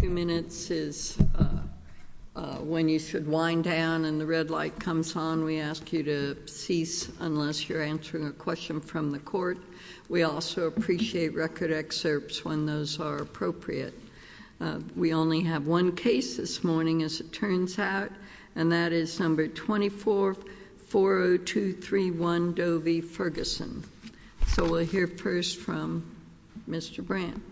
Two minutes is when you should wind down, and the red light comes on. We ask you to cease unless you're answering a question from the court. We also appreciate record excerpts when those are appropriate. We only have one case this morning, as it turns out, and that is number 2440231 Doe v. Ferguson. So we'll hear first from Mr. Brandt.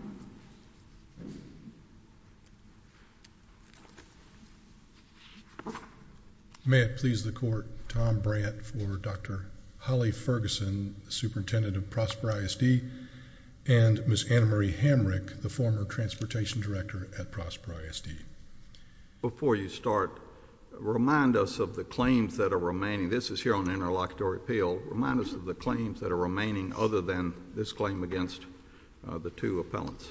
May it please the court, Tom Brandt for Dr. Holly Ferguson, superintendent of Prosper ISD, and Ms. Annemarie Hamrick, the former transportation director at Prosper ISD. Before you start, remind us of the claims that are remaining. This is here on interlocutory appeal. Remind us of the claims that are remaining other than this claim against the two appellants.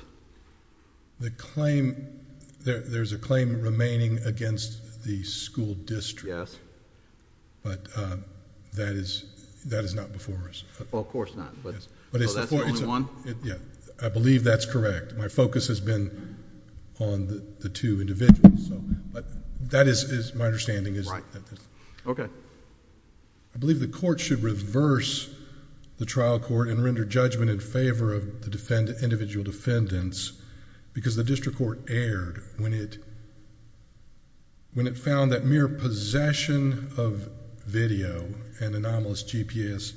The claim... there's a claim remaining against the school district. But that is not before us. Well, of course not, but... Yes. But it's... So that's the only one? Yeah. I believe that's correct. My focus has been on the two individuals, so... but that is my understanding is... Okay. I believe the court should reverse the trial court and render judgment in favor of the individual defendants because the district court erred when it found that mere possession of video and anomalous GPS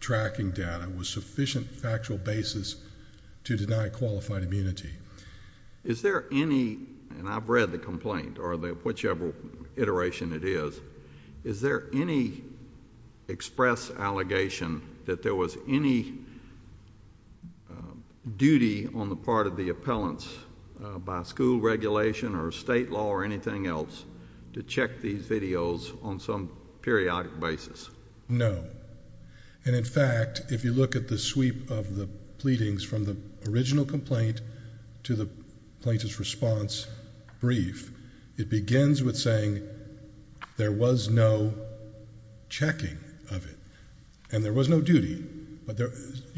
tracking data was sufficient factual basis to deny qualified immunity. Is there any... and I've read the complaint or whichever iteration it is. Is there any express allegation that there was any duty on the part of the appellants by school regulation or state law or anything else to check these videos on some periodic basis? No. And in fact, if you look at the sweep of the pleadings from the original complaint to the plaintiff's response brief, it begins with saying there was no checking of it and there was no duty, but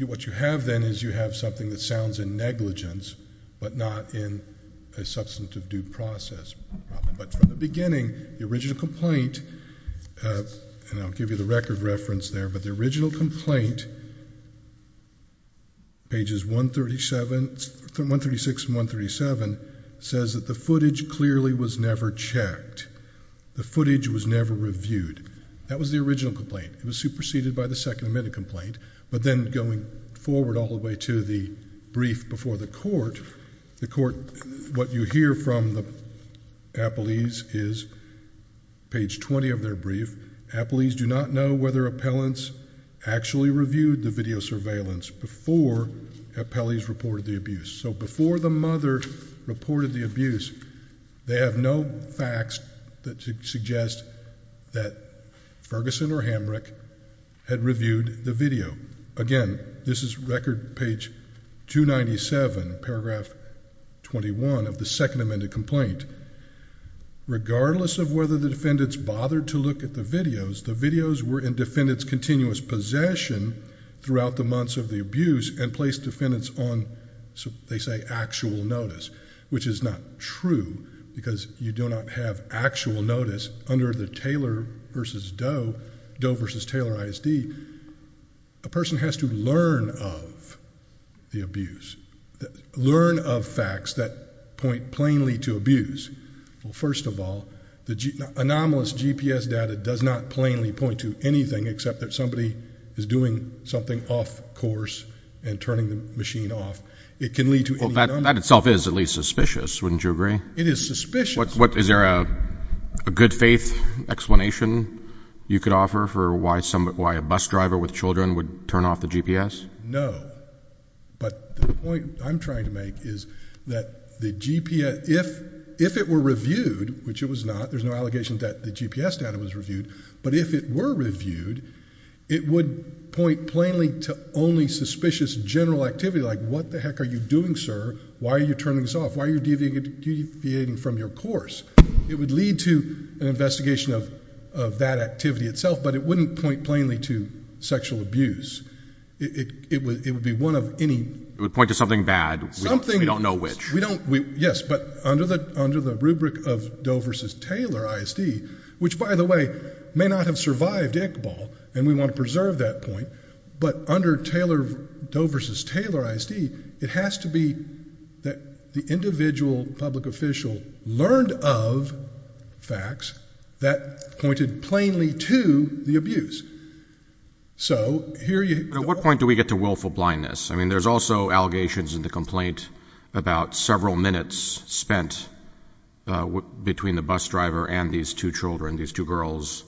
what you have then is you have something that sounds in negligence but not in a substantive due process. But from the beginning, the original complaint, and I'll give you the record reference there, but the original complaint, pages 136 and 137, says that the footage clearly was never checked. The footage was never reviewed. That was the original complaint. It was superseded by the second admitted complaint. But then going forward all the way to the brief before the court, the court, what you hear from the appellees is page 20 of their brief. Appellees do not know whether appellants actually reviewed the video surveillance before appellees reported the abuse. So before the mother reported the abuse, they have no facts that suggest that Ferguson or Hamrick had reviewed the video. Again, this is record page 297, paragraph 21 of the second amended complaint. Regardless of whether the defendants bothered to look at the videos, the videos were in defendant's continuous possession throughout the months of the abuse and placed defendants on, they say, actual notice, which is not true because you do not have actual notice under the Doe v. Taylor ISD. A person has to learn of the abuse, learn of facts that point plainly to abuse. First of all, the anomalous GPS data does not plainly point to anything except that somebody is doing something off course and turning the machine off. It can lead to any number of things. Well, that itself is at least suspicious, wouldn't you agree? It is suspicious. Is there a good faith explanation you could offer for why a bus driver with children would turn off the GPS? No. But the point I'm trying to make is that the GPS, if it were reviewed, which it was not, there's no allegation that the GPS data was reviewed, but if it were reviewed, it would point plainly to only suspicious general activity like what the heck are you doing, sir? Why are you turning this off? Why are you deviating from your course? It would lead to an investigation of that activity itself, but it wouldn't point plainly to sexual abuse. It would be one of any... It would point to something bad. Something... We don't know which. We don't... Yes, but under the rubric of Doe versus Taylor ISD, which by the way may not have survived Iqbal, and we want to preserve that point, but under Doe versus Taylor ISD, it has to be that the individual public official learned of facts that pointed plainly to the abuse. So, here you... At what point do we get to willful blindness? I mean, there's also allegations in the complaint about several minutes spent between the bus driver and these two children, these two girls,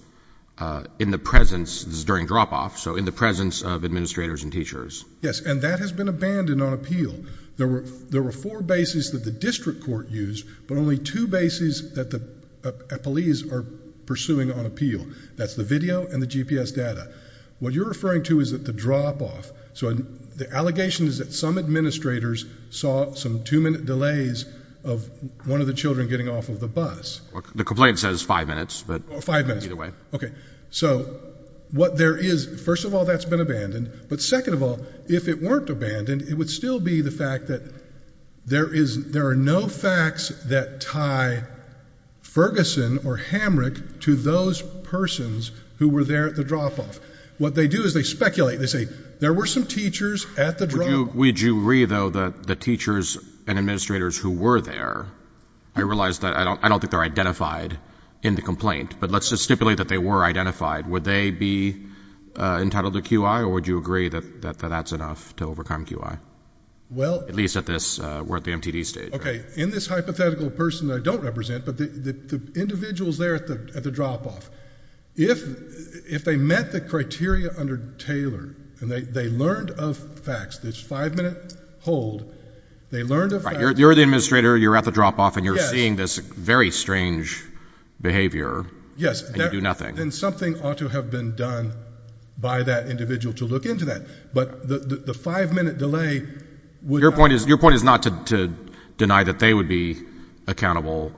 in the presence, this is during drop-off, so in the presence of administrators and teachers. Yes, and that has been abandoned on appeal. There were four bases that the district court used, but only two bases that the police are pursuing on appeal. That's the video and the GPS data. What you're referring to is at the drop-off, so the allegation is that some administrators saw some two-minute delays of one of the children getting off of the bus. The complaint says five minutes, but... Five minutes. Either way. Okay. So, what there is... First of all, that's been abandoned, but second of all, if it weren't abandoned, it would still be the fact that there are no facts that tie Ferguson or Hamrick to those persons who were there at the drop-off. What they do is they speculate. They say, there were some teachers at the drop-off. Would you read, though, the teachers and administrators who were there? I realize that I don't think they're identified in the complaint, but let's just stipulate that they were identified. Would they be entitled to QI, or would you agree that that's enough to overcome QI? Well... At least at this, we're at the MTD stage. Okay. In this hypothetical person I don't represent, but the individuals there at the drop-off, if they met the criteria under Taylor, and they learned of facts, this five-minute hold, they learned of facts... Right. You're the administrator, you're at the drop-off, and you're seeing this very strange behavior, and you do nothing. And something ought to have been done by that individual to look into that, but the five-minute delay would not... Your point is not to deny that they would be accountable.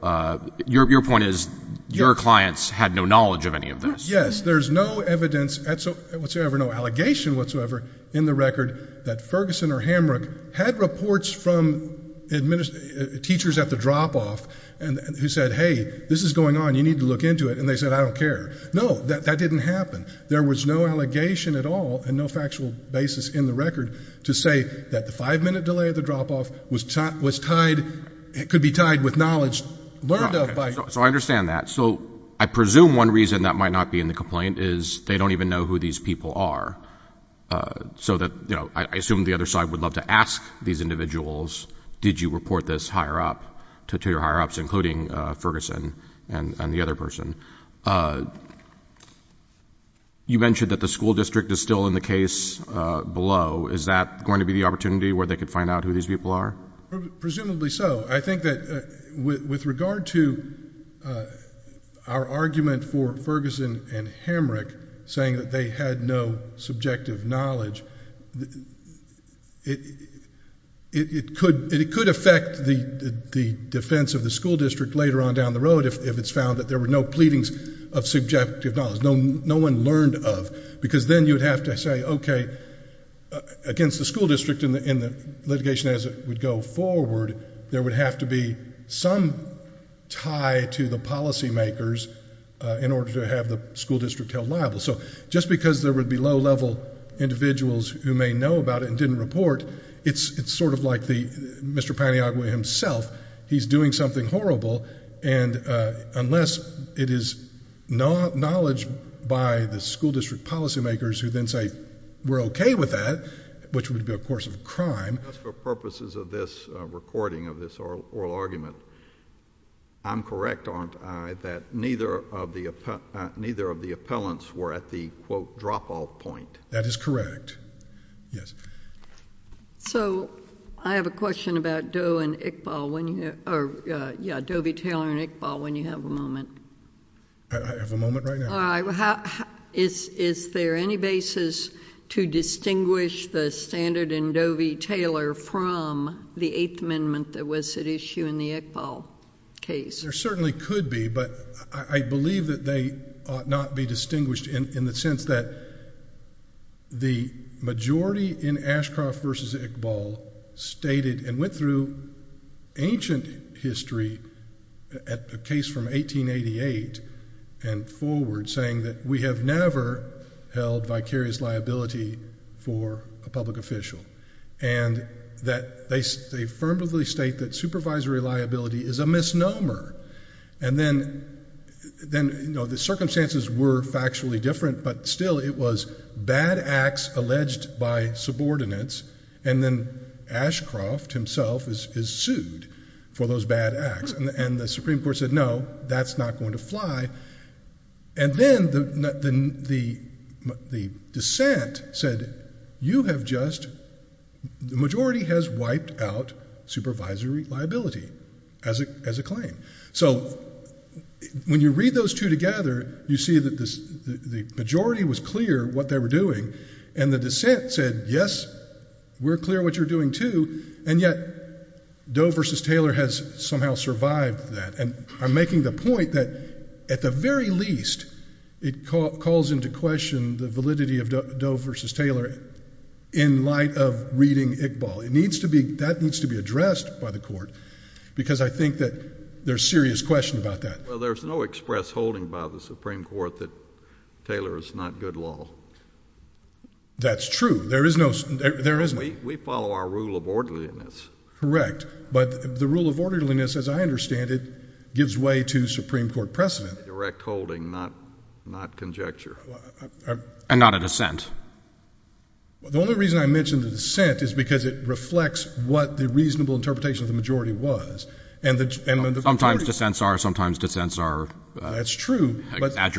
Your point is, your clients had no knowledge of any of this. Yes. There's no evidence whatsoever, no allegation whatsoever in the record that Ferguson or Hamrick had reports from teachers at the drop-off, who said, hey, this is going on, you need to look into it, and they said, I don't care. No, that didn't happen. There was no allegation at all, and no factual basis in the record to say that the five-minute delay at the drop-off was tied, could be tied with knowledge learned of by... So I understand that. So I presume one reason that might not be in the complaint is they don't even know who these people are, so that, you know, I assume the other side would love to ask these individuals, did you report this higher up to your higher-ups, including Ferguson and the other person. You mentioned that the school district is still in the case below. Is that going to be the opportunity where they could find out who these people are? Presumably so. I think that with regard to our argument for Ferguson and Hamrick saying that they had no subjective knowledge, it could affect the defense of the school district later on down the road if it's found that there were no pleadings of subjective knowledge, no one learned of, because then you would have to say, okay, against the school district in the litigation as it would go forward, there would have to be some tie to the policymakers in order to have the school district held liable. So just because there would be low-level individuals who may know about it and didn't report, it's sort of like Mr. Paniagua himself, he's doing something horrible, and unless it is knowledge by the school district policymakers who then say, we're okay with that, which would be a course of crime... Just for purposes of this recording of this oral argument, I'm correct, aren't I, that neither of the appellants were at the, quote, drop-off point? That is correct. Yes. So, I have a question about Doe and Iqbal when you... or, yeah, Doe v. Taylor and Iqbal, when you have a moment. I have a moment right now. All right. Is there any basis to distinguish the standard in Doe v. Taylor from the Eighth Amendment that was at issue in the Iqbal case? There certainly could be, but I believe that they ought not be distinguished in the sense that the majority in Ashcroft v. Iqbal stated and went through ancient history, a case from 1888 and forward, saying that we have never held vicarious liability for a public official, and that they affirmatively state that supervisory liability is a misnomer. And then, you know, the circumstances were factually different, but still it was bad acts alleged by subordinates, and then Ashcroft himself is sued for those bad acts. And the Supreme Court said, no, that's not going to fly. And then the dissent said, you have just... the majority has wiped out supervisory liability as a claim. So when you read those two together, you see that the majority was clear what they were doing, and the dissent said, yes, we're clear what you're doing, too, and yet Doe v. Taylor has somehow survived that. And I'm making the point that at the very least, it calls into question the validity of Doe v. Taylor in light of reading Iqbal. It needs to be... that needs to be addressed by the Court, because I think that there's serious question about that. Well, there's no express holding by the Supreme Court that Taylor is not a good law. That's true. There is no... there isn't. We follow our rule of orderliness. Correct. But the rule of orderliness, as I understand it, gives way to Supreme Court precedent. Direct holding, not conjecture. And not a dissent. The only reason I mention the dissent is because it reflects what the reasonable interpretation of the majority was. And the... Sometimes dissents are. Sometimes dissents are. That's true, but... I'm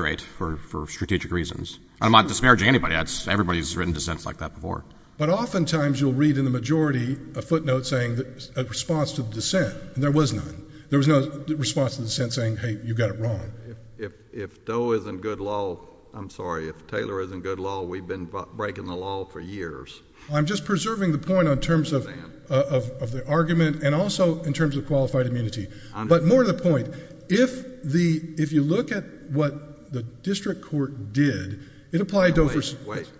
not disparaging anybody. That's... everybody's written dissents like that before. But oftentimes you'll read in the majority a footnote saying that... a response to the dissent. And there was none. There was no response to the dissent saying, hey, you got it wrong. If Doe is in good law... I'm sorry, if Taylor is in good law, we've been breaking the law for years. I'm just preserving the point in terms of the argument and also in terms of qualified immunity. But more to the point, if the... if you look at what the district court did, it applied... Wait, wait.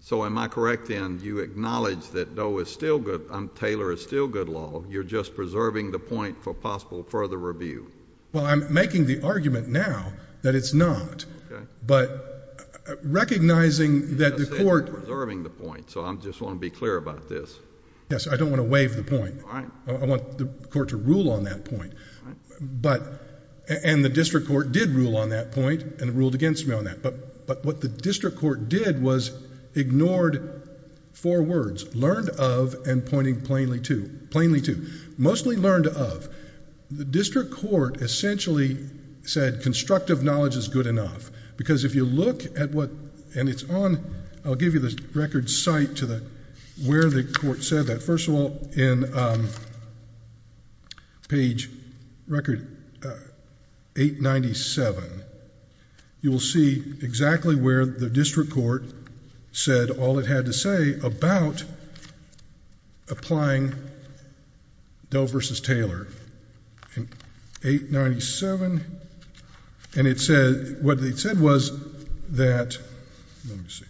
So am I correct, then, you acknowledge that Doe is still good... Taylor is still good law. You're just preserving the point for possible further review. Well, I'm making the argument now that it's not. But recognizing that the court... I said you're preserving the point, so I just want to be clear about this. Yes, I don't want to waive the point. I want the court to rule on that point. And the district court did rule on that point and ruled against me on that. But what the district court did was ignored four words, learned of and pointing plainly to. Plainly to. Mostly learned of. The district court essentially said constructive knowledge is good enough because if you look at what... and it's on... I'll give you the record site to where the court said that. But first of all, in page record 897, you will see exactly where the district court said all it had to say about applying Doe versus Taylor in 897. And it said... what it said was that... let me see.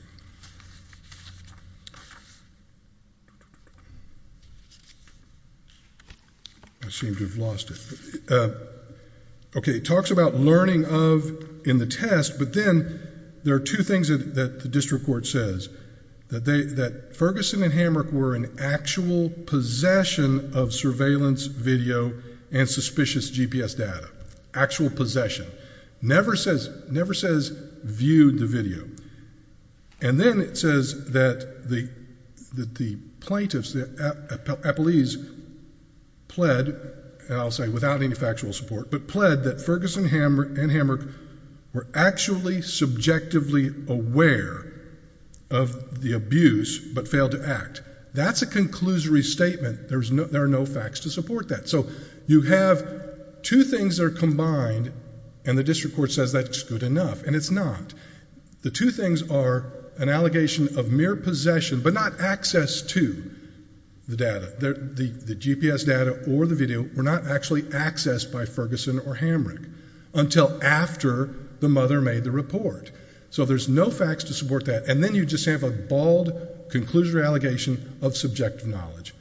I seem to have lost it. Okay, it talks about learning of in the test, but then there are two things that the district court says, that Ferguson and Hamrick were in actual possession of surveillance video and suspicious GPS data. Actual possession. Never says viewed the video. And then it says that the plaintiffs, the appellees, pled, and I'll say without any factual support, but pled that Ferguson and Hamrick were actually subjectively aware of the abuse but failed to act. That's a conclusory statement. There are no facts to support that. So you have two things that are combined and the district court says that's good enough. And it's not. The two things are an allegation of mere possession, but not access to the data. The GPS data or the video were not actually accessed by Ferguson or Hamrick until after the mother made the report. So there's no facts to support that. And then you just have a bald conclusory allegation of subjective knowledge.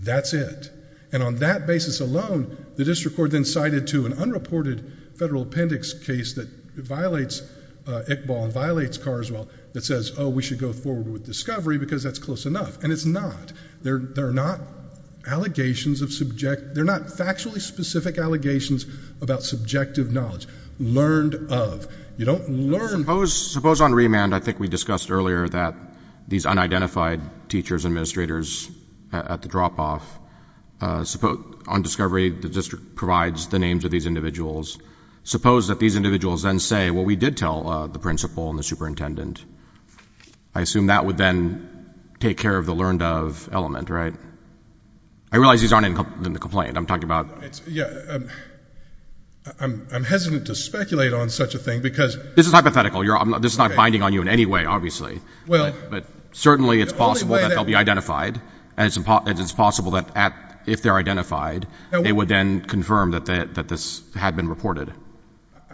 That's it. And on that basis alone, the district court then cited to an unreported federal appendix case that violates Iqbal and violates Carswell that says, oh, we should go forward with discovery because that's close enough. And it's not. There are not allegations of subject. They're not factually specific allegations about subjective knowledge. Learned of. You don't learn. Suppose on remand, I think we discussed earlier that these unidentified teachers, administrators at the drop off, on discovery, the district provides the names of these individuals. Suppose that these individuals then say, well, we did tell the principal and the superintendent. I assume that would then take care of the learned of element, right? I realize these aren't in the complaint I'm talking about. I'm hesitant to speculate on such a thing because this is hypothetical. This is not binding on you in any way, obviously, but certainly it's possible that they'll be identified and it's possible that if they're identified, they would then confirm that this had been reported.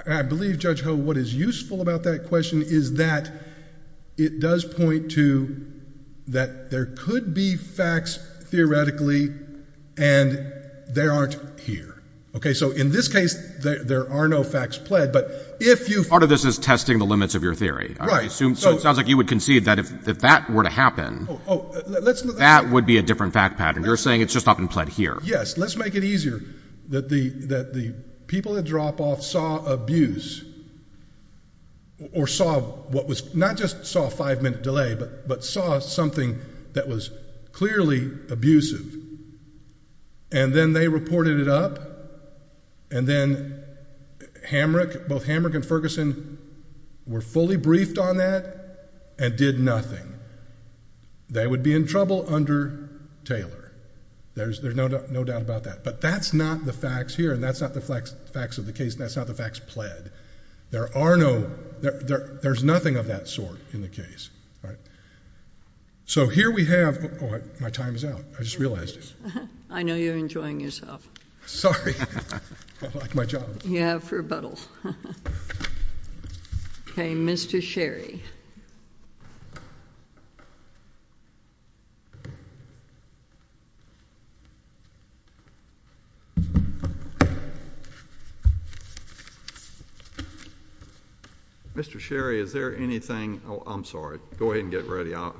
I believe, Judge Ho, what is useful about that question is that it does point to that there could be facts theoretically and they aren't here. OK, so in this case, there are no facts pled. But if you part of this is testing the limits of your theory, I assume it sounds like you would concede that if that were to happen, that would be a different fact pattern. You're saying it's just not been pled here. Yes, let's make it easier that the that the people that drop off saw abuse. Or saw what was not just saw a five minute delay, but but saw something that was clearly abusive. And then they reported it up. And then Hamrick, both Hamrick and Ferguson were fully briefed on that and did nothing. They would be in trouble under Taylor. There's no doubt about that. But that's not the facts here. And that's not the facts of the case. That's not the facts pled. There are no there. There's nothing of that sort in the case. So here we have. Oh, my time is out. I just realized it. I know you're enjoying yourself. Sorry. I like my job. You have for a bottle. OK, Mr. Sherry. Mr. Sherry, is there anything I'm sorry, go ahead and get ready on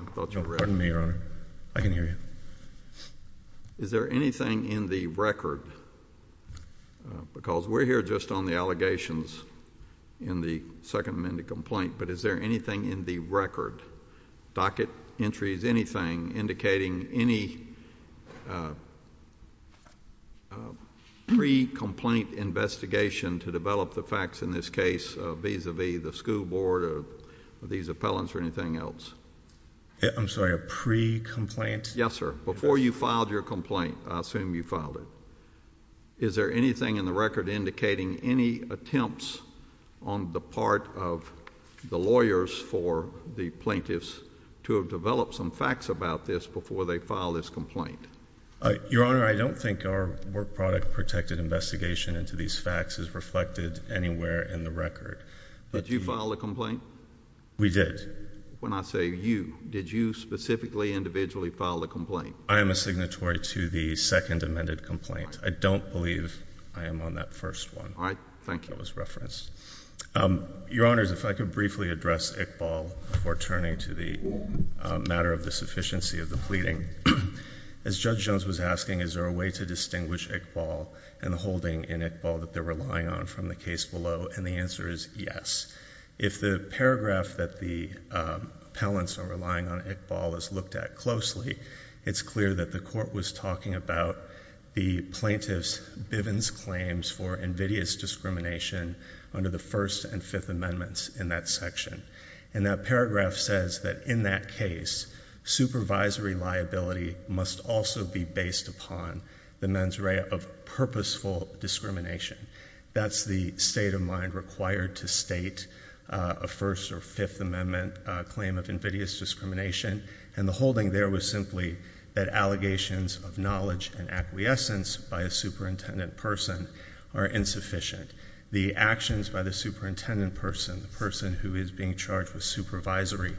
me, or I can hear you. Is there anything in the record? Because we're here just on the allegations in the Second Amendment complaint. But is there anything in the record, docket entries, anything indicating any pre-complaint investigation to develop the facts in this case vis-a-vis the school board or these appellants or anything else? I'm sorry, a pre-complaint? Yes, sir. Before you filed your complaint, I assume you filed it. Is there anything in the record indicating any attempts on the part of the lawyers for the plaintiffs to have developed some facts about this before they filed this complaint? Your Honor, I don't think our work product protected investigation into these facts is reflected anywhere in the record. Did you file a complaint? We did. When I say you, did you specifically individually file a complaint? I am a signatory to the Second Amendment complaint. I don't believe I am on that first one that was referenced. Your Honor, if I could briefly address Iqbal before turning to the matter of the sufficiency of the pleading. As Judge Jones was asking, is there a way to distinguish Iqbal and the holding in Iqbal that they're relying on from the case below? And the answer is yes. If the paragraph that the appellants are relying on Iqbal is looked at closely, it's clear that the court was talking about the plaintiff's Bivens claims for invidious discrimination under the First and Fifth Amendments in that section. And that paragraph says that in that case, supervisory liability must also be based upon the mens rea of purposeful discrimination. That's the state of mind required to state a First or Fifth Amendment claim of invidious discrimination, and the holding there was simply that allegations of knowledge and acquiescence by a superintendent person are insufficient. The actions by the superintendent person, the person who is being charged with supervisory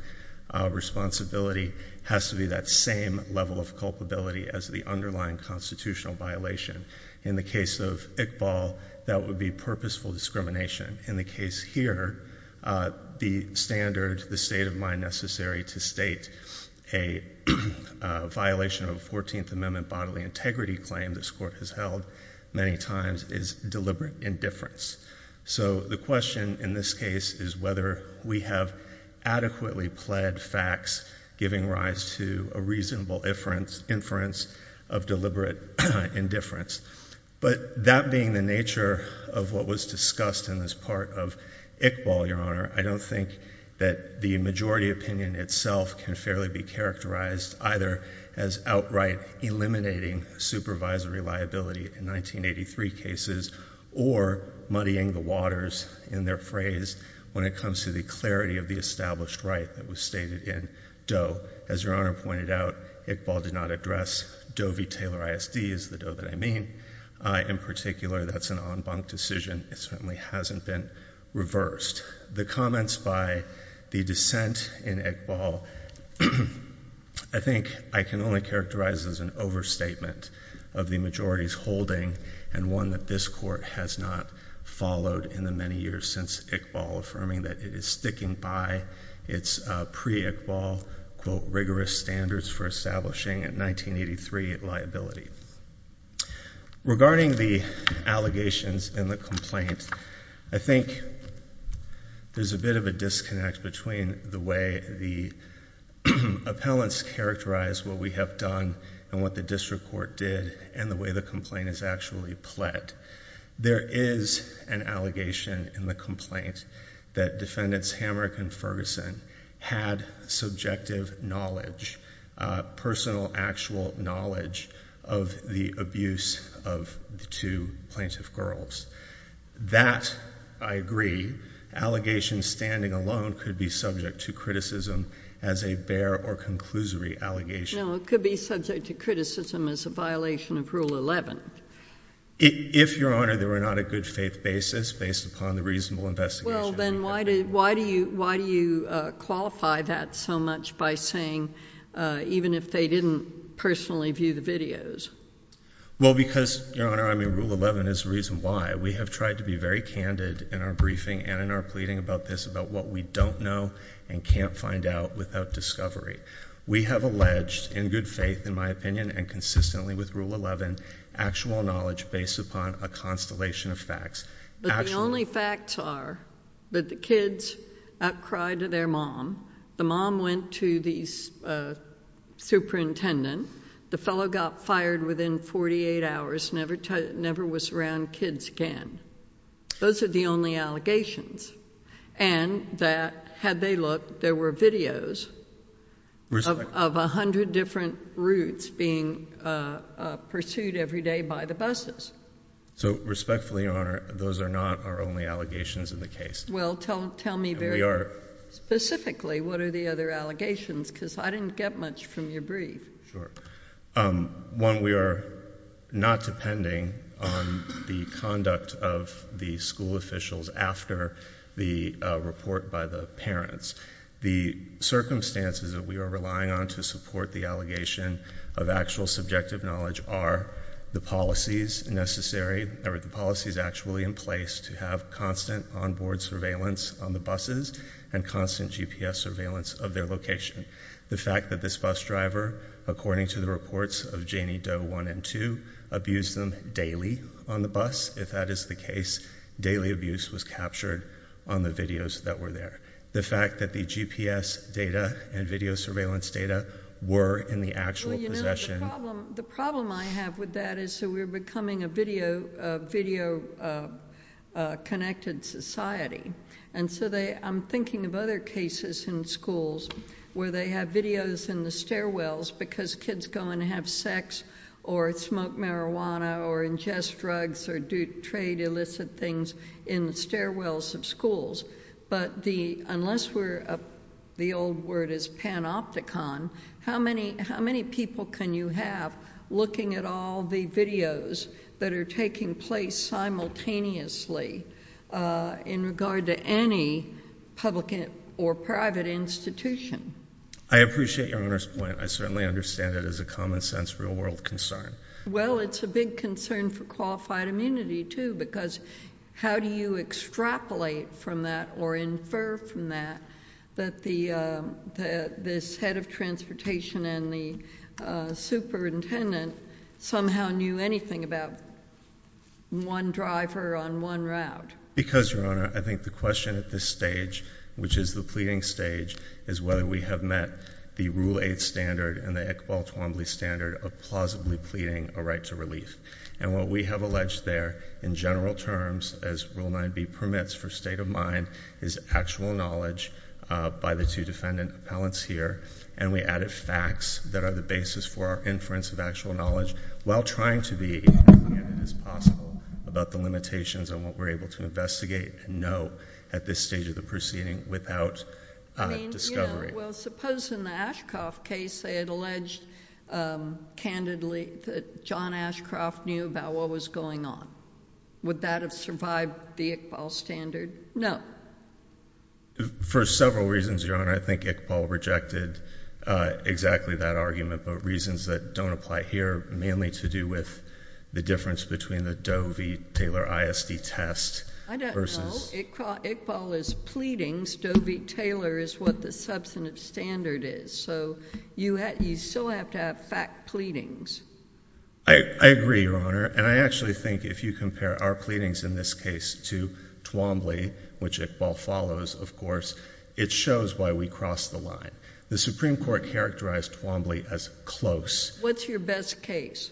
responsibility, has to be that same level of culpability as the underlying constitutional violation. In the case of Iqbal, that would be purposeful discrimination. In the case here, the standard, the state of mind necessary to state a violation of a Fourteenth Amendment bodily integrity claim this court has held many times is deliberate indifference. So the question in this case is whether we have adequately pled facts giving rise to a reasonable inference of deliberate indifference. But that being the nature of what was discussed in this part of Iqbal, Your Honor, I don't think that the majority opinion itself can fairly be characterized either as outright eliminating supervisory liability in 1983 cases or muddying the waters in their phrase when it comes to the clarity of the established right that was stated in Doe. As Your Honor pointed out, Iqbal did not address Doe v. Taylor ISD, is the Doe that I mean. In particular, that's an en banc decision. It certainly hasn't been reversed. The comments by the dissent in Iqbal, I think I can only characterize as an overstatement of the majority's holding and one that this court has not followed in the many years since Iqbal affirming that it is sticking by its pre-Iqbal, quote, rigorous standards for establishing in 1983 liability. Regarding the allegations in the complaint, I think there's a bit of a disconnect between the way the appellants characterize what we have done and what the district court did and the way the complaint is actually pled. There is an allegation in the complaint that defendants Hamrick and Ferguson had subjective knowledge, personal actual knowledge of the abuse of the two plaintiff girls. That I agree. Allegation standing alone could be subject to criticism as a bare or conclusory allegation. No, it could be subject to criticism as a violation of Rule 11. If Your Honor, there were not a good faith basis based upon the reasonable investigation. Well, then why do you qualify that so much by saying even if they didn't personally view the videos? Well, because Your Honor, I mean, Rule 11 is the reason why. We have tried to be very candid in our briefing and in our pleading about this about what we don't know and can't find out without discovery. We have alleged in good faith, in my opinion, and consistently with Rule 11, actual knowledge based upon a constellation of facts. But the only facts are that the kids outcried to their mom. The mom went to the superintendent. The fellow got fired within 48 hours, never was around kids again. Those are the only allegations. And that had they looked, there were videos of 100 different routes being pursued every day by the buses. So respectfully, Your Honor, those are not our only allegations in the case. Well, tell me very specifically what are the other allegations because I didn't get much from your brief. Sure. One, we are not depending on the conduct of the school officials after the report by the parents. The circumstances that we are relying on to support the allegation of actual subjective knowledge are the policies necessary or the policies actually in place to have constant onboard surveillance on the buses and constant GPS surveillance of their location. The fact that this bus driver, according to the reports of Janie Doe 1 and 2, abused them daily on the bus, if that is the case. Daily abuse was captured on the videos that were there. The fact that the GPS data and video surveillance data were in the actual possession. The problem I have with that is so we're becoming a video connected society. And so I'm thinking of other cases in schools where they have videos in the stairwells because kids go and have sex or smoke marijuana or ingest drugs or do trade illicit things in the stairwells of schools. But unless the old word is panopticon, how many people can you have looking at all the videos that are taking place simultaneously in regard to any public or private institution? I appreciate your Honour's point. I certainly understand it as a common sense, real world concern. Well it's a big concern for qualified immunity too because how do you extrapolate from that or infer from that that this head of transportation and the superintendent somehow knew anything about one driver on one route? Because Your Honour, I think the question at this stage, which is the pleading stage, is whether we have met the Rule 8 standard and the Iqbal Twombly standard of plausibly pleading a right to relief. And what we have alleged there in general terms as Rule 9b permits for state of mind is actual knowledge by the two defendant appellants here and we added facts that are the basis for our inference of actual knowledge while trying to be as possible about the limitations on what we're able to investigate and know at this stage of the proceeding without discovery. I mean, yeah, well suppose in the Ashcroft case they had alleged candidly that John Ashcroft knew about what was going on. Would that have survived the Iqbal standard? No. For several reasons, Your Honour, I think Iqbal rejected exactly that argument but reasons that don't apply here mainly to do with the difference between the Doe v. Taylor ISD test versus... I don't know. Iqbal is pleadings, Doe v. Taylor is what the substantive standard is. So you still have to have fact pleadings. I agree, Your Honour, and I actually think if you compare our pleadings in this case to Twombly, which Iqbal follows, of course, it shows why we crossed the line. The Supreme Court characterized Twombly as close. What's your best case?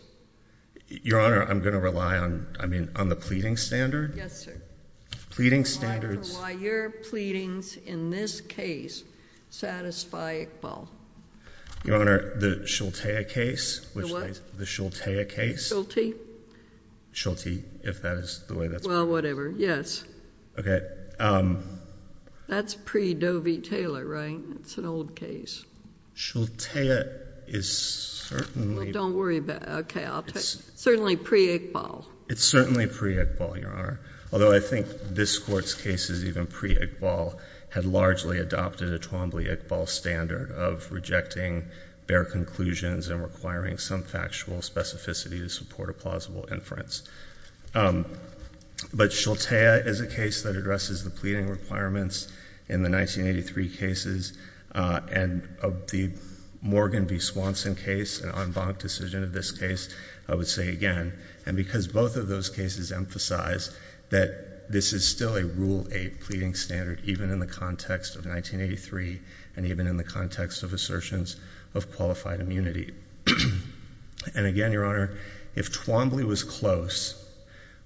Your Honour, I'm going to rely on the pleading standard. Yes, sir. Pleading standards... I wonder why your pleadings in this case satisfy Iqbal. Your Honour, the Shulteya case... The what? The Shulteya case. Shulti? Shulti, if that is the way that's... Well, whatever. Yes. Okay. That's pre-Doe v. Taylor, right? It's an old case. Shulteya is certainly... Well, don't worry about... Okay, I'll take... It's... Certainly pre-Iqbal. It's certainly pre-Iqbal, Your Honour, although I think this Court's case is even pre-Iqbal, had largely adopted a Twombly-Iqbal standard of rejecting bare conclusions and requiring some factual specificity to support a plausible inference. But Shulteya is a case that addresses the pleading requirements in the 1983 cases, and of the Morgan v. Swanson case, an en banc decision of this case, I would say again, and because both of those cases emphasize that this is still a Rule 8 pleading standard even in the context of 1983, and even in the context of assertions of qualified immunity. And again, Your Honour, if Twombly was close,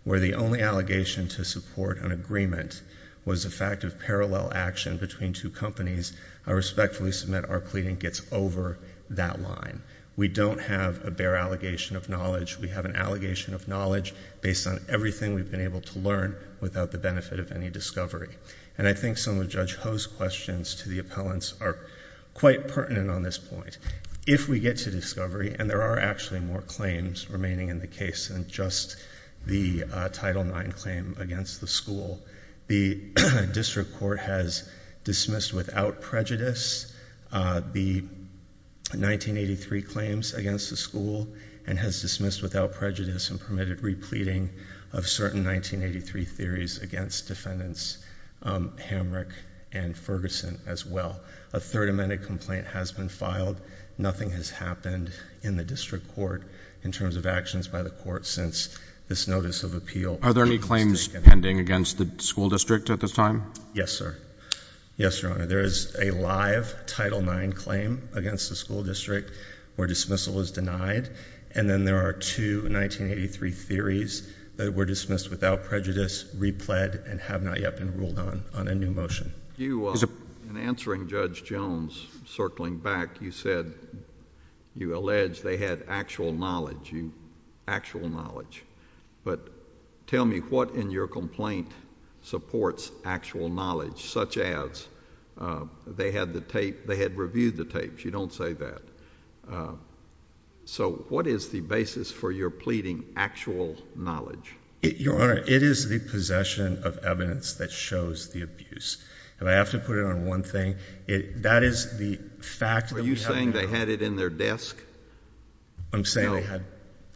where the only allegation to support an agreement was the fact of parallel action between two companies, I respectfully submit our pleading gets over that line. We don't have a bare allegation of knowledge. We have an allegation of knowledge based on everything we've been able to learn without the benefit of any discovery. And I think some of Judge Ho's questions to the appellants are quite pertinent on this point. If we get to discovery, and there are actually more claims remaining in the case than just the Title IX claim against the school, the District Court has dismissed without prejudice the 1983 claims against the school, and has dismissed without prejudice and permitted repleting of certain 1983 theories against defendants Hamrick and Ferguson as well. A third amended complaint has been filed. Nothing has happened in the District Court in terms of actions by the court since this notice of appeal was taken. Are there any claims pending against the school district at this time? Yes, sir. Yes, Your Honour. There is a live Title IX claim against the school district where dismissal is denied, and then there are two 1983 theories that were dismissed without prejudice, repled, and have not yet been ruled on, on a new motion. In answering Judge Jones, circling back, you said, you alleged they had actual knowledge, actual knowledge, but tell me what in your complaint supports actual knowledge, such as they had the tape, they had reviewed the tapes. You don't say that. So, what is the basis for your pleading, actual knowledge? Your Honour, it is the possession of evidence that shows the abuse, and I have to put it on one thing. That is the fact. Were you saying they had it in their desk? No. I'm saying they had,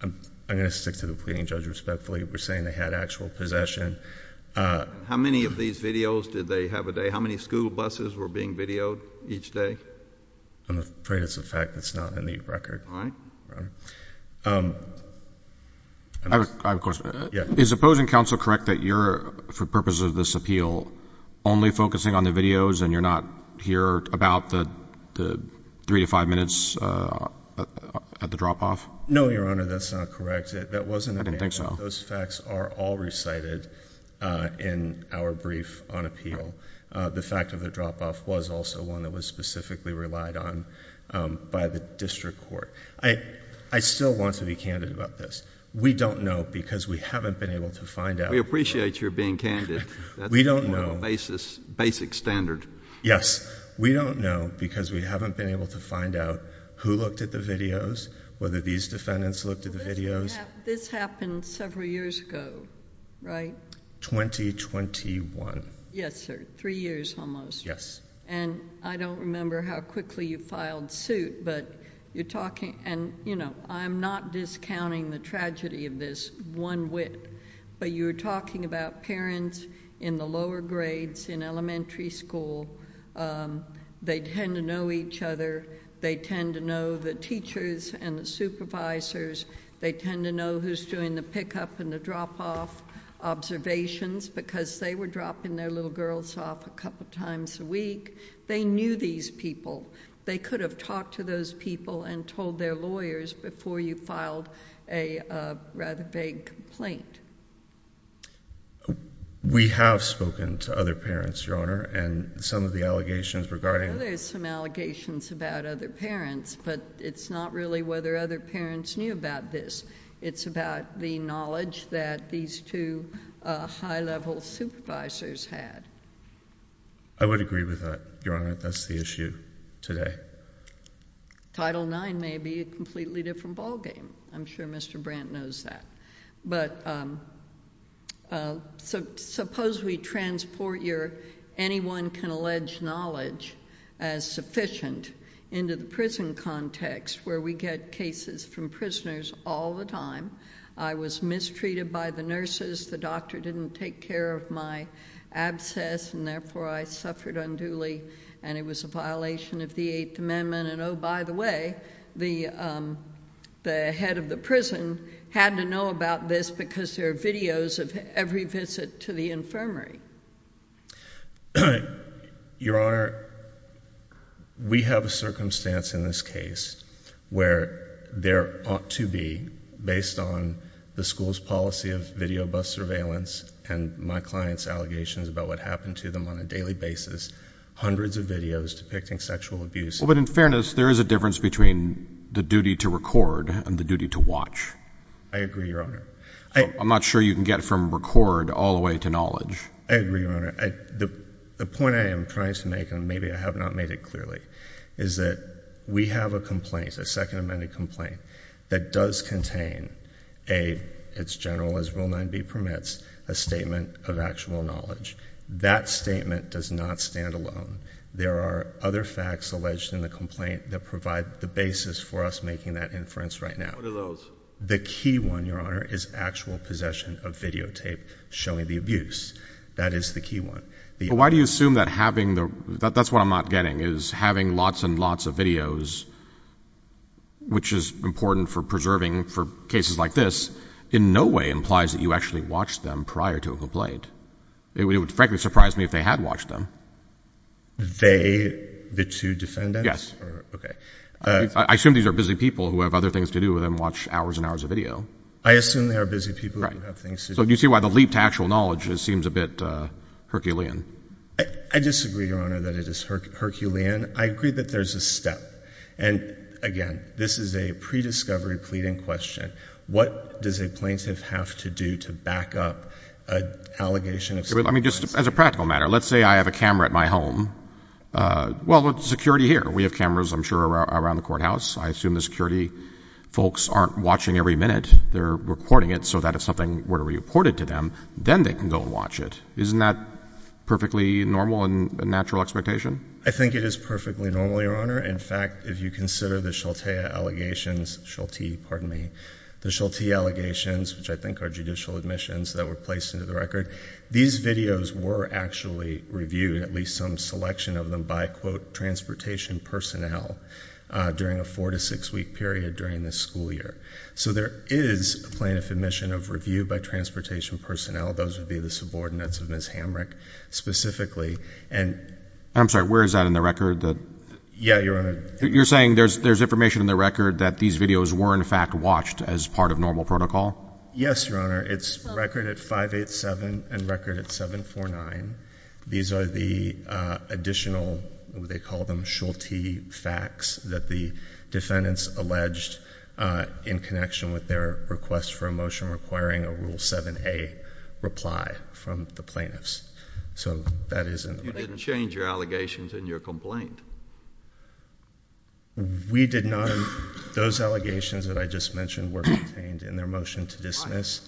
I'm going to stick to the pleading judge respectfully, we're saying they had actual possession. How many of these videos did they have a day, how many school buses were being videoed each day? I'm afraid it's a fact that's not in the record. Is opposing counsel correct that you're, for the purpose of this appeal, only focusing on the videos and you're not here about the three to five minutes at the drop-off? No, Your Honour, that's not correct. That wasn't a fact. I didn't think so. Those facts are all recited in our brief on appeal. The fact of the drop-off was also one that was specifically relied on by the district court. I still want to be candid about this. We don't know because we haven't been able to find out... We appreciate your being candid. We don't know. That's the normal basis, basic standard. Yes. We don't know because we haven't been able to find out who looked at the videos, whether these defendants looked at the videos. This happened several years ago, right? 2021. Yes, sir. Three years almost. I don't remember how quickly you filed suit, but you're talking... I'm not discounting the tragedy of this one whit, but you were talking about parents in the lower grades in elementary school. They tend to know each other. They tend to know the teachers and the supervisors. They tend to know who's doing the pickup and the drop-off observations because they were dropping their little girls off a couple of times a week. They knew these people. They could have talked to those people and told their lawyers before you filed a rather vague complaint. We have spoken to other parents, Your Honor, and some of the allegations regarding... Well, there's some allegations about other parents, but it's not really whether other parents knew about this. It's about the knowledge that these two high-level supervisors had. I would agree with that, Your Honor. That's the issue today. Title IX may be a completely different ballgame. I'm sure Mr. Brandt knows that, but suppose we transport your anyone-can-allege knowledge as sufficient into the prison context where we get cases from prisoners all the time. I was mistreated by the nurses. The doctor didn't take care of my abscess, and therefore I suffered unduly, and it was a violation of the Eighth Amendment. By the way, the head of the prison had to know about this because there are videos of every visit to the infirmary. Your Honor, we have a circumstance in this case where there ought to be, based on the school's policy of video bus surveillance and my client's allegations about what happened to them on a daily basis, hundreds of videos depicting sexual abuse. Well, but in fairness, there is a difference between the duty to record and the duty to I agree, Your Honor. I'm not sure you can get from record all the way to knowledge. I agree, Your Honor. The point I am trying to make, and maybe I have not made it clearly, is that we have a complaint, a Second Amendment complaint, that does contain a, it's general as Rule 9b permits, a statement of actual knowledge. That statement does not stand alone. There are other facts alleged in the complaint that provide the basis for us making that inference right now. What are those? The key one, Your Honor, is actual possession of videotape showing the abuse. That is the key one. But why do you assume that having the, that's what I'm not getting, is having lots and lots of videos, which is important for preserving for cases like this, in no way implies that you actually watched them prior to a complaint. It would frankly surprise me if they had watched them. They, the two defendants? Yes. Okay. I assume these are busy people who have other things to do than watch hours and hours of video. I assume they are busy people who have things to do. Right. So do you see why the leap to actual knowledge seems a bit Herculean? I disagree, Your Honor, that it is Herculean. I agree that there's a step. And again, this is a pre-discovery pleading question. What does a plaintiff have to do to back up an allegation of sexual assault? I mean, just as a practical matter, let's say I have a camera at my home. Well, there's security here. We have cameras, I'm sure, around the courthouse. I assume the security folks aren't watching every minute. They're recording it so that if something were to be reported to them, then they can go and watch it. Isn't that perfectly normal and a natural expectation? I think it is perfectly normal, Your Honor. In fact, if you consider the Sheltia allegations, Sheltie, pardon me, the Sheltie allegations, which I think are judicial admissions that were placed into the record, these videos were actually reviewed, at least some selection of them, by, quote, transportation personnel during a four- to six-week period during the school year. So there is a plaintiff admission of review by transportation personnel. Those would be the subordinates of Ms. Hamrick, specifically. And — I'm sorry, where is that in the record? That — Yeah, Your Honor. You're saying there's information in the record that these videos were, in fact, watched as part of normal protocol? Yes, Your Honor. It's record at 587 and record at 749. These are the additional, what they call them, Sheltie facts that the defendants alleged in connection with their request for a motion requiring a Rule 7a reply from the plaintiffs. So that is — You didn't change your allegations in your complaint? We did not. Those allegations that I just mentioned were contained in their motion to dismiss.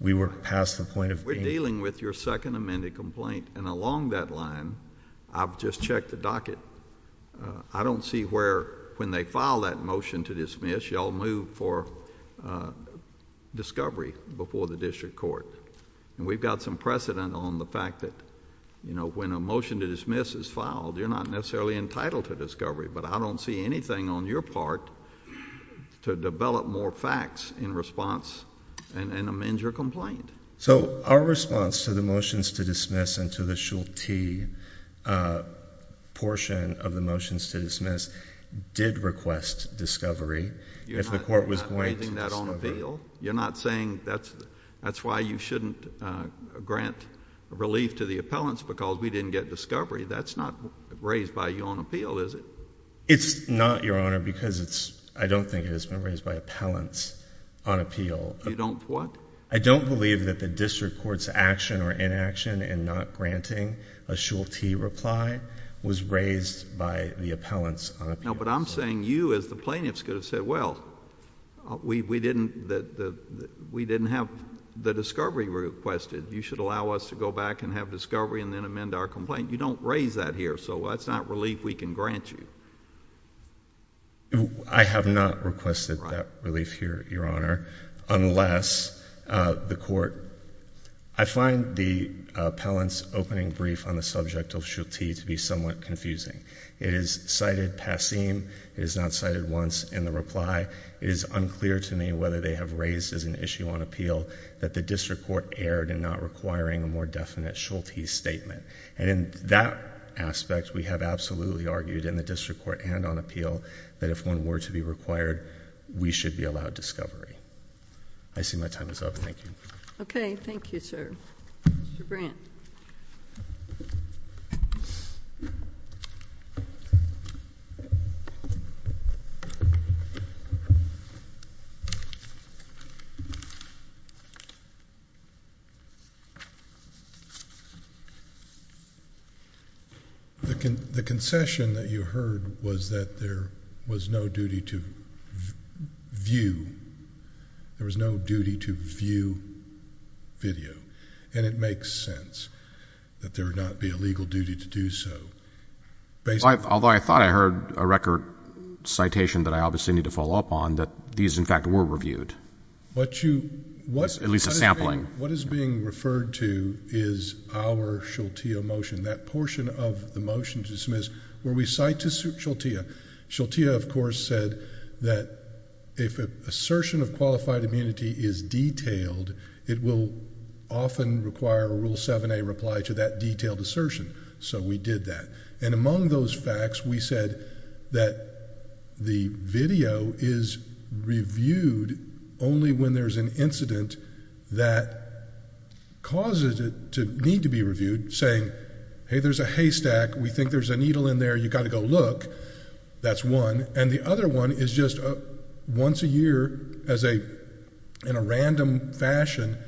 We were past the point of being — We're dealing with your second amended complaint. And along that line, I've just checked the docket. I don't see where, when they file that motion to dismiss, y'all move for discovery before the district court. And we've got some precedent on the fact that, you know, when a motion to dismiss is filed, you're not necessarily entitled to discovery. But I don't see anything on your part to develop more facts in response and amend your complaint. So our response to the motions to dismiss and to the Sheltie portion of the motions to dismiss did request discovery. If the court was going to — You're not raising that on appeal? You're not saying that's why you shouldn't grant relief to the appellants because we didn't get discovery? That's not raised by you on appeal, is it? It's not, Your Honor, because it's — I don't think it has been raised by appellants on You don't what? I don't believe that the district court's action or inaction in not granting a Sheltie reply was raised by the appellants on appeal. No, but I'm saying you as the plaintiffs could have said, well, we didn't have the discovery requested. You should allow us to go back and have discovery and then amend our complaint. You don't raise that here, so that's not relief we can grant you. I have not requested that relief here, Your Honor, unless the court — I find the appellant's opening brief on the subject of Sheltie to be somewhat confusing. It is cited passim, it is not cited once in the reply, it is unclear to me whether they have raised as an issue on appeal that the district court erred in not requiring a more definite Sheltie statement, and in that aspect, we have absolutely argued in the district court and on appeal that if one were to be required, we should be allowed discovery. I see my time is up. Thank you. Okay. Thank you, sir. Mr. Brandt. The concession that you heard was that there was no duty to view, there was no duty to view video, and it makes sense that there would not be a legal duty to do so. Although I thought I heard a record citation that I obviously need to follow up on that these in fact were reviewed. At least a sampling. What is being referred to is our Sheltie motion, that portion of the motion to dismiss where we cite to Sheltie, Sheltie of course said that if assertion of qualified immunity is detailed, it will often require a rule 7A reply to that detailed assertion. So we did that. And among those facts, we said that the video is reviewed only when there's an incident that causes it to need to be reviewed, saying, hey, there's a haystack, we think there's a needle in there, you got to go look. That's one. And the other one is just once a year, in a random fashion,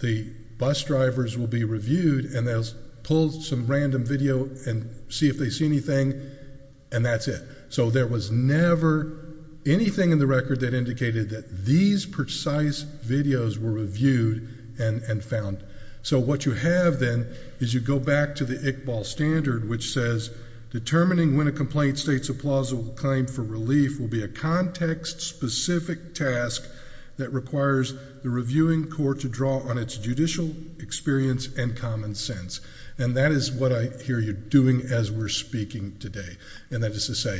the bus drivers will be reviewed and they'll pull some random video and see if they see anything, and that's it. So there was never anything in the record that indicated that these precise videos were reviewed and found. So what you have then is you go back to the Iqbal standard, which says determining when a complaint states a plausible claim for relief will be a context-specific task that requires the reviewing court to draw on its judicial experience and common sense. And that is what I hear you doing as we're speaking today, and that is to say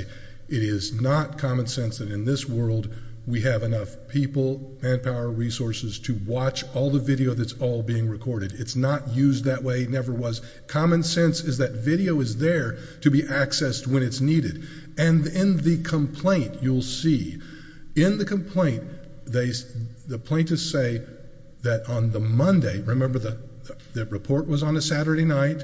it is not common sense that in this world we have enough people, manpower, resources to watch all the video that's all being recorded. It's not used that way, never was. Common sense is that video is there to be accessed when it's needed. And in the complaint, you'll see, in the complaint, the plaintiffs say that on the Monday, remember the report was on a Saturday night,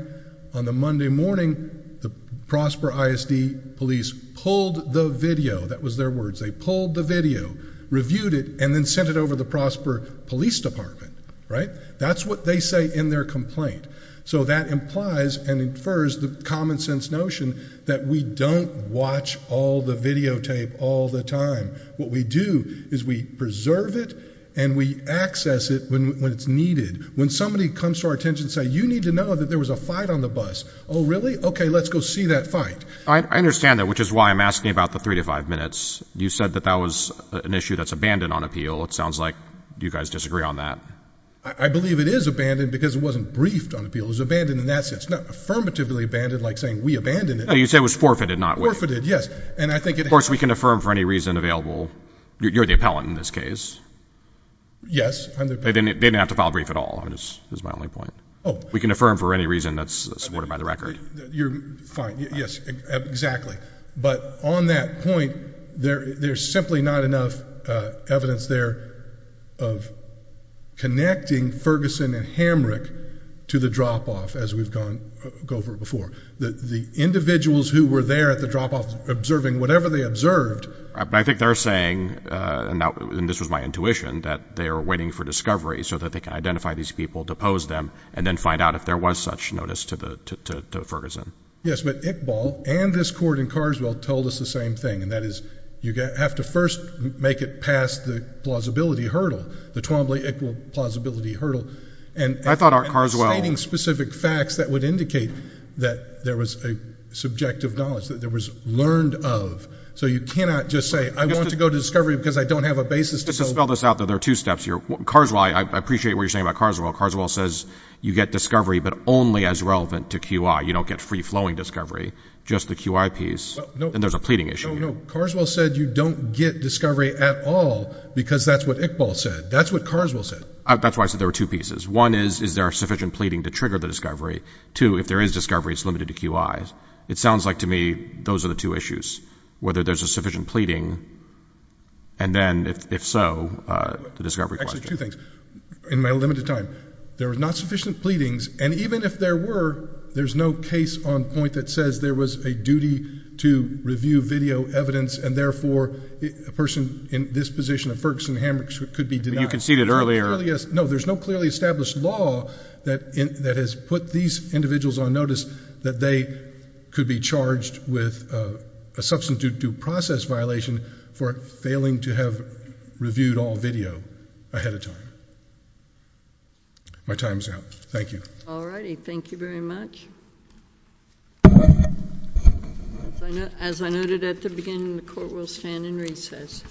on the Monday morning, the Prosper ISD police pulled the video, that was their words, they pulled the video, reviewed it, and then sent it over the Prosper Police Department, right? That's what they say in their complaint. So that implies and infers the common sense notion that we don't watch all the videotape all the time. What we do is we preserve it and we access it when it's needed. When somebody comes to our attention and says, you need to know that there was a fight on the bus. Oh, really? Okay, let's go see that fight. I understand that, which is why I'm asking about the three to five minutes. You said that that was an issue that's abandoned on appeal. It sounds like you guys disagree on that. I believe it is abandoned because it wasn't briefed on appeal. It was abandoned in that sense. It's not affirmatively abandoned like saying we abandoned it. No, you said it was forfeited, not briefed. Forfeited, yes. Of course, we can affirm for any reason available, you're the appellant in this case. Yes. They didn't have to file a brief at all, is my only point. We can affirm for any reason that's supported by the record. You're fine, yes, exactly. But, on that point, there's simply not enough evidence there of connecting Ferguson and Hamrick to the drop-off as we've gone over before. The individuals who were there at the drop-off observing whatever they observed- I think they're saying, and this was my intuition, that they are waiting for discovery so that they can identify these people, depose them, and then find out if there was such notice to Ferguson. Yes, but Iqbal and this court in Carswell told us the same thing, and that is you have to first make it past the plausibility hurdle, the Twombly-Iqbal plausibility hurdle. I thought Carswell- And citing specific facts that would indicate that there was a subjective knowledge, that there was learned of, so you cannot just say, I want to go to discovery because I don't have a basis to- Just to spell this out, though, there are two steps here. Carswell, I appreciate what you're saying about Carswell, Carswell says you get discovery but only as relevant to QI. You don't get free-flowing discovery, just the QI piece, and there's a pleading issue. No, no. Carswell said you don't get discovery at all because that's what Iqbal said. That's what Carswell said. That's why I said there were two pieces. One is, is there sufficient pleading to trigger the discovery? Two, if there is discovery, it's limited to QI. It sounds like to me those are the two issues, whether there's a sufficient pleading, and then if so, the discovery question. Actually, two things. In my limited time, there was not sufficient pleadings, and even if there were, there's no case on point that says there was a duty to review video evidence and therefore a person in this position, a Ferguson-Hamrick, could be denied. You conceded earlier. No, there's no clearly established law that has put these individuals on notice that they could be charged with a substantive due process violation for failing to have reviewed all video ahead of time. My time's out. Thank you. All righty. Thank you very much. As I noted at the beginning, the court will stand in recess.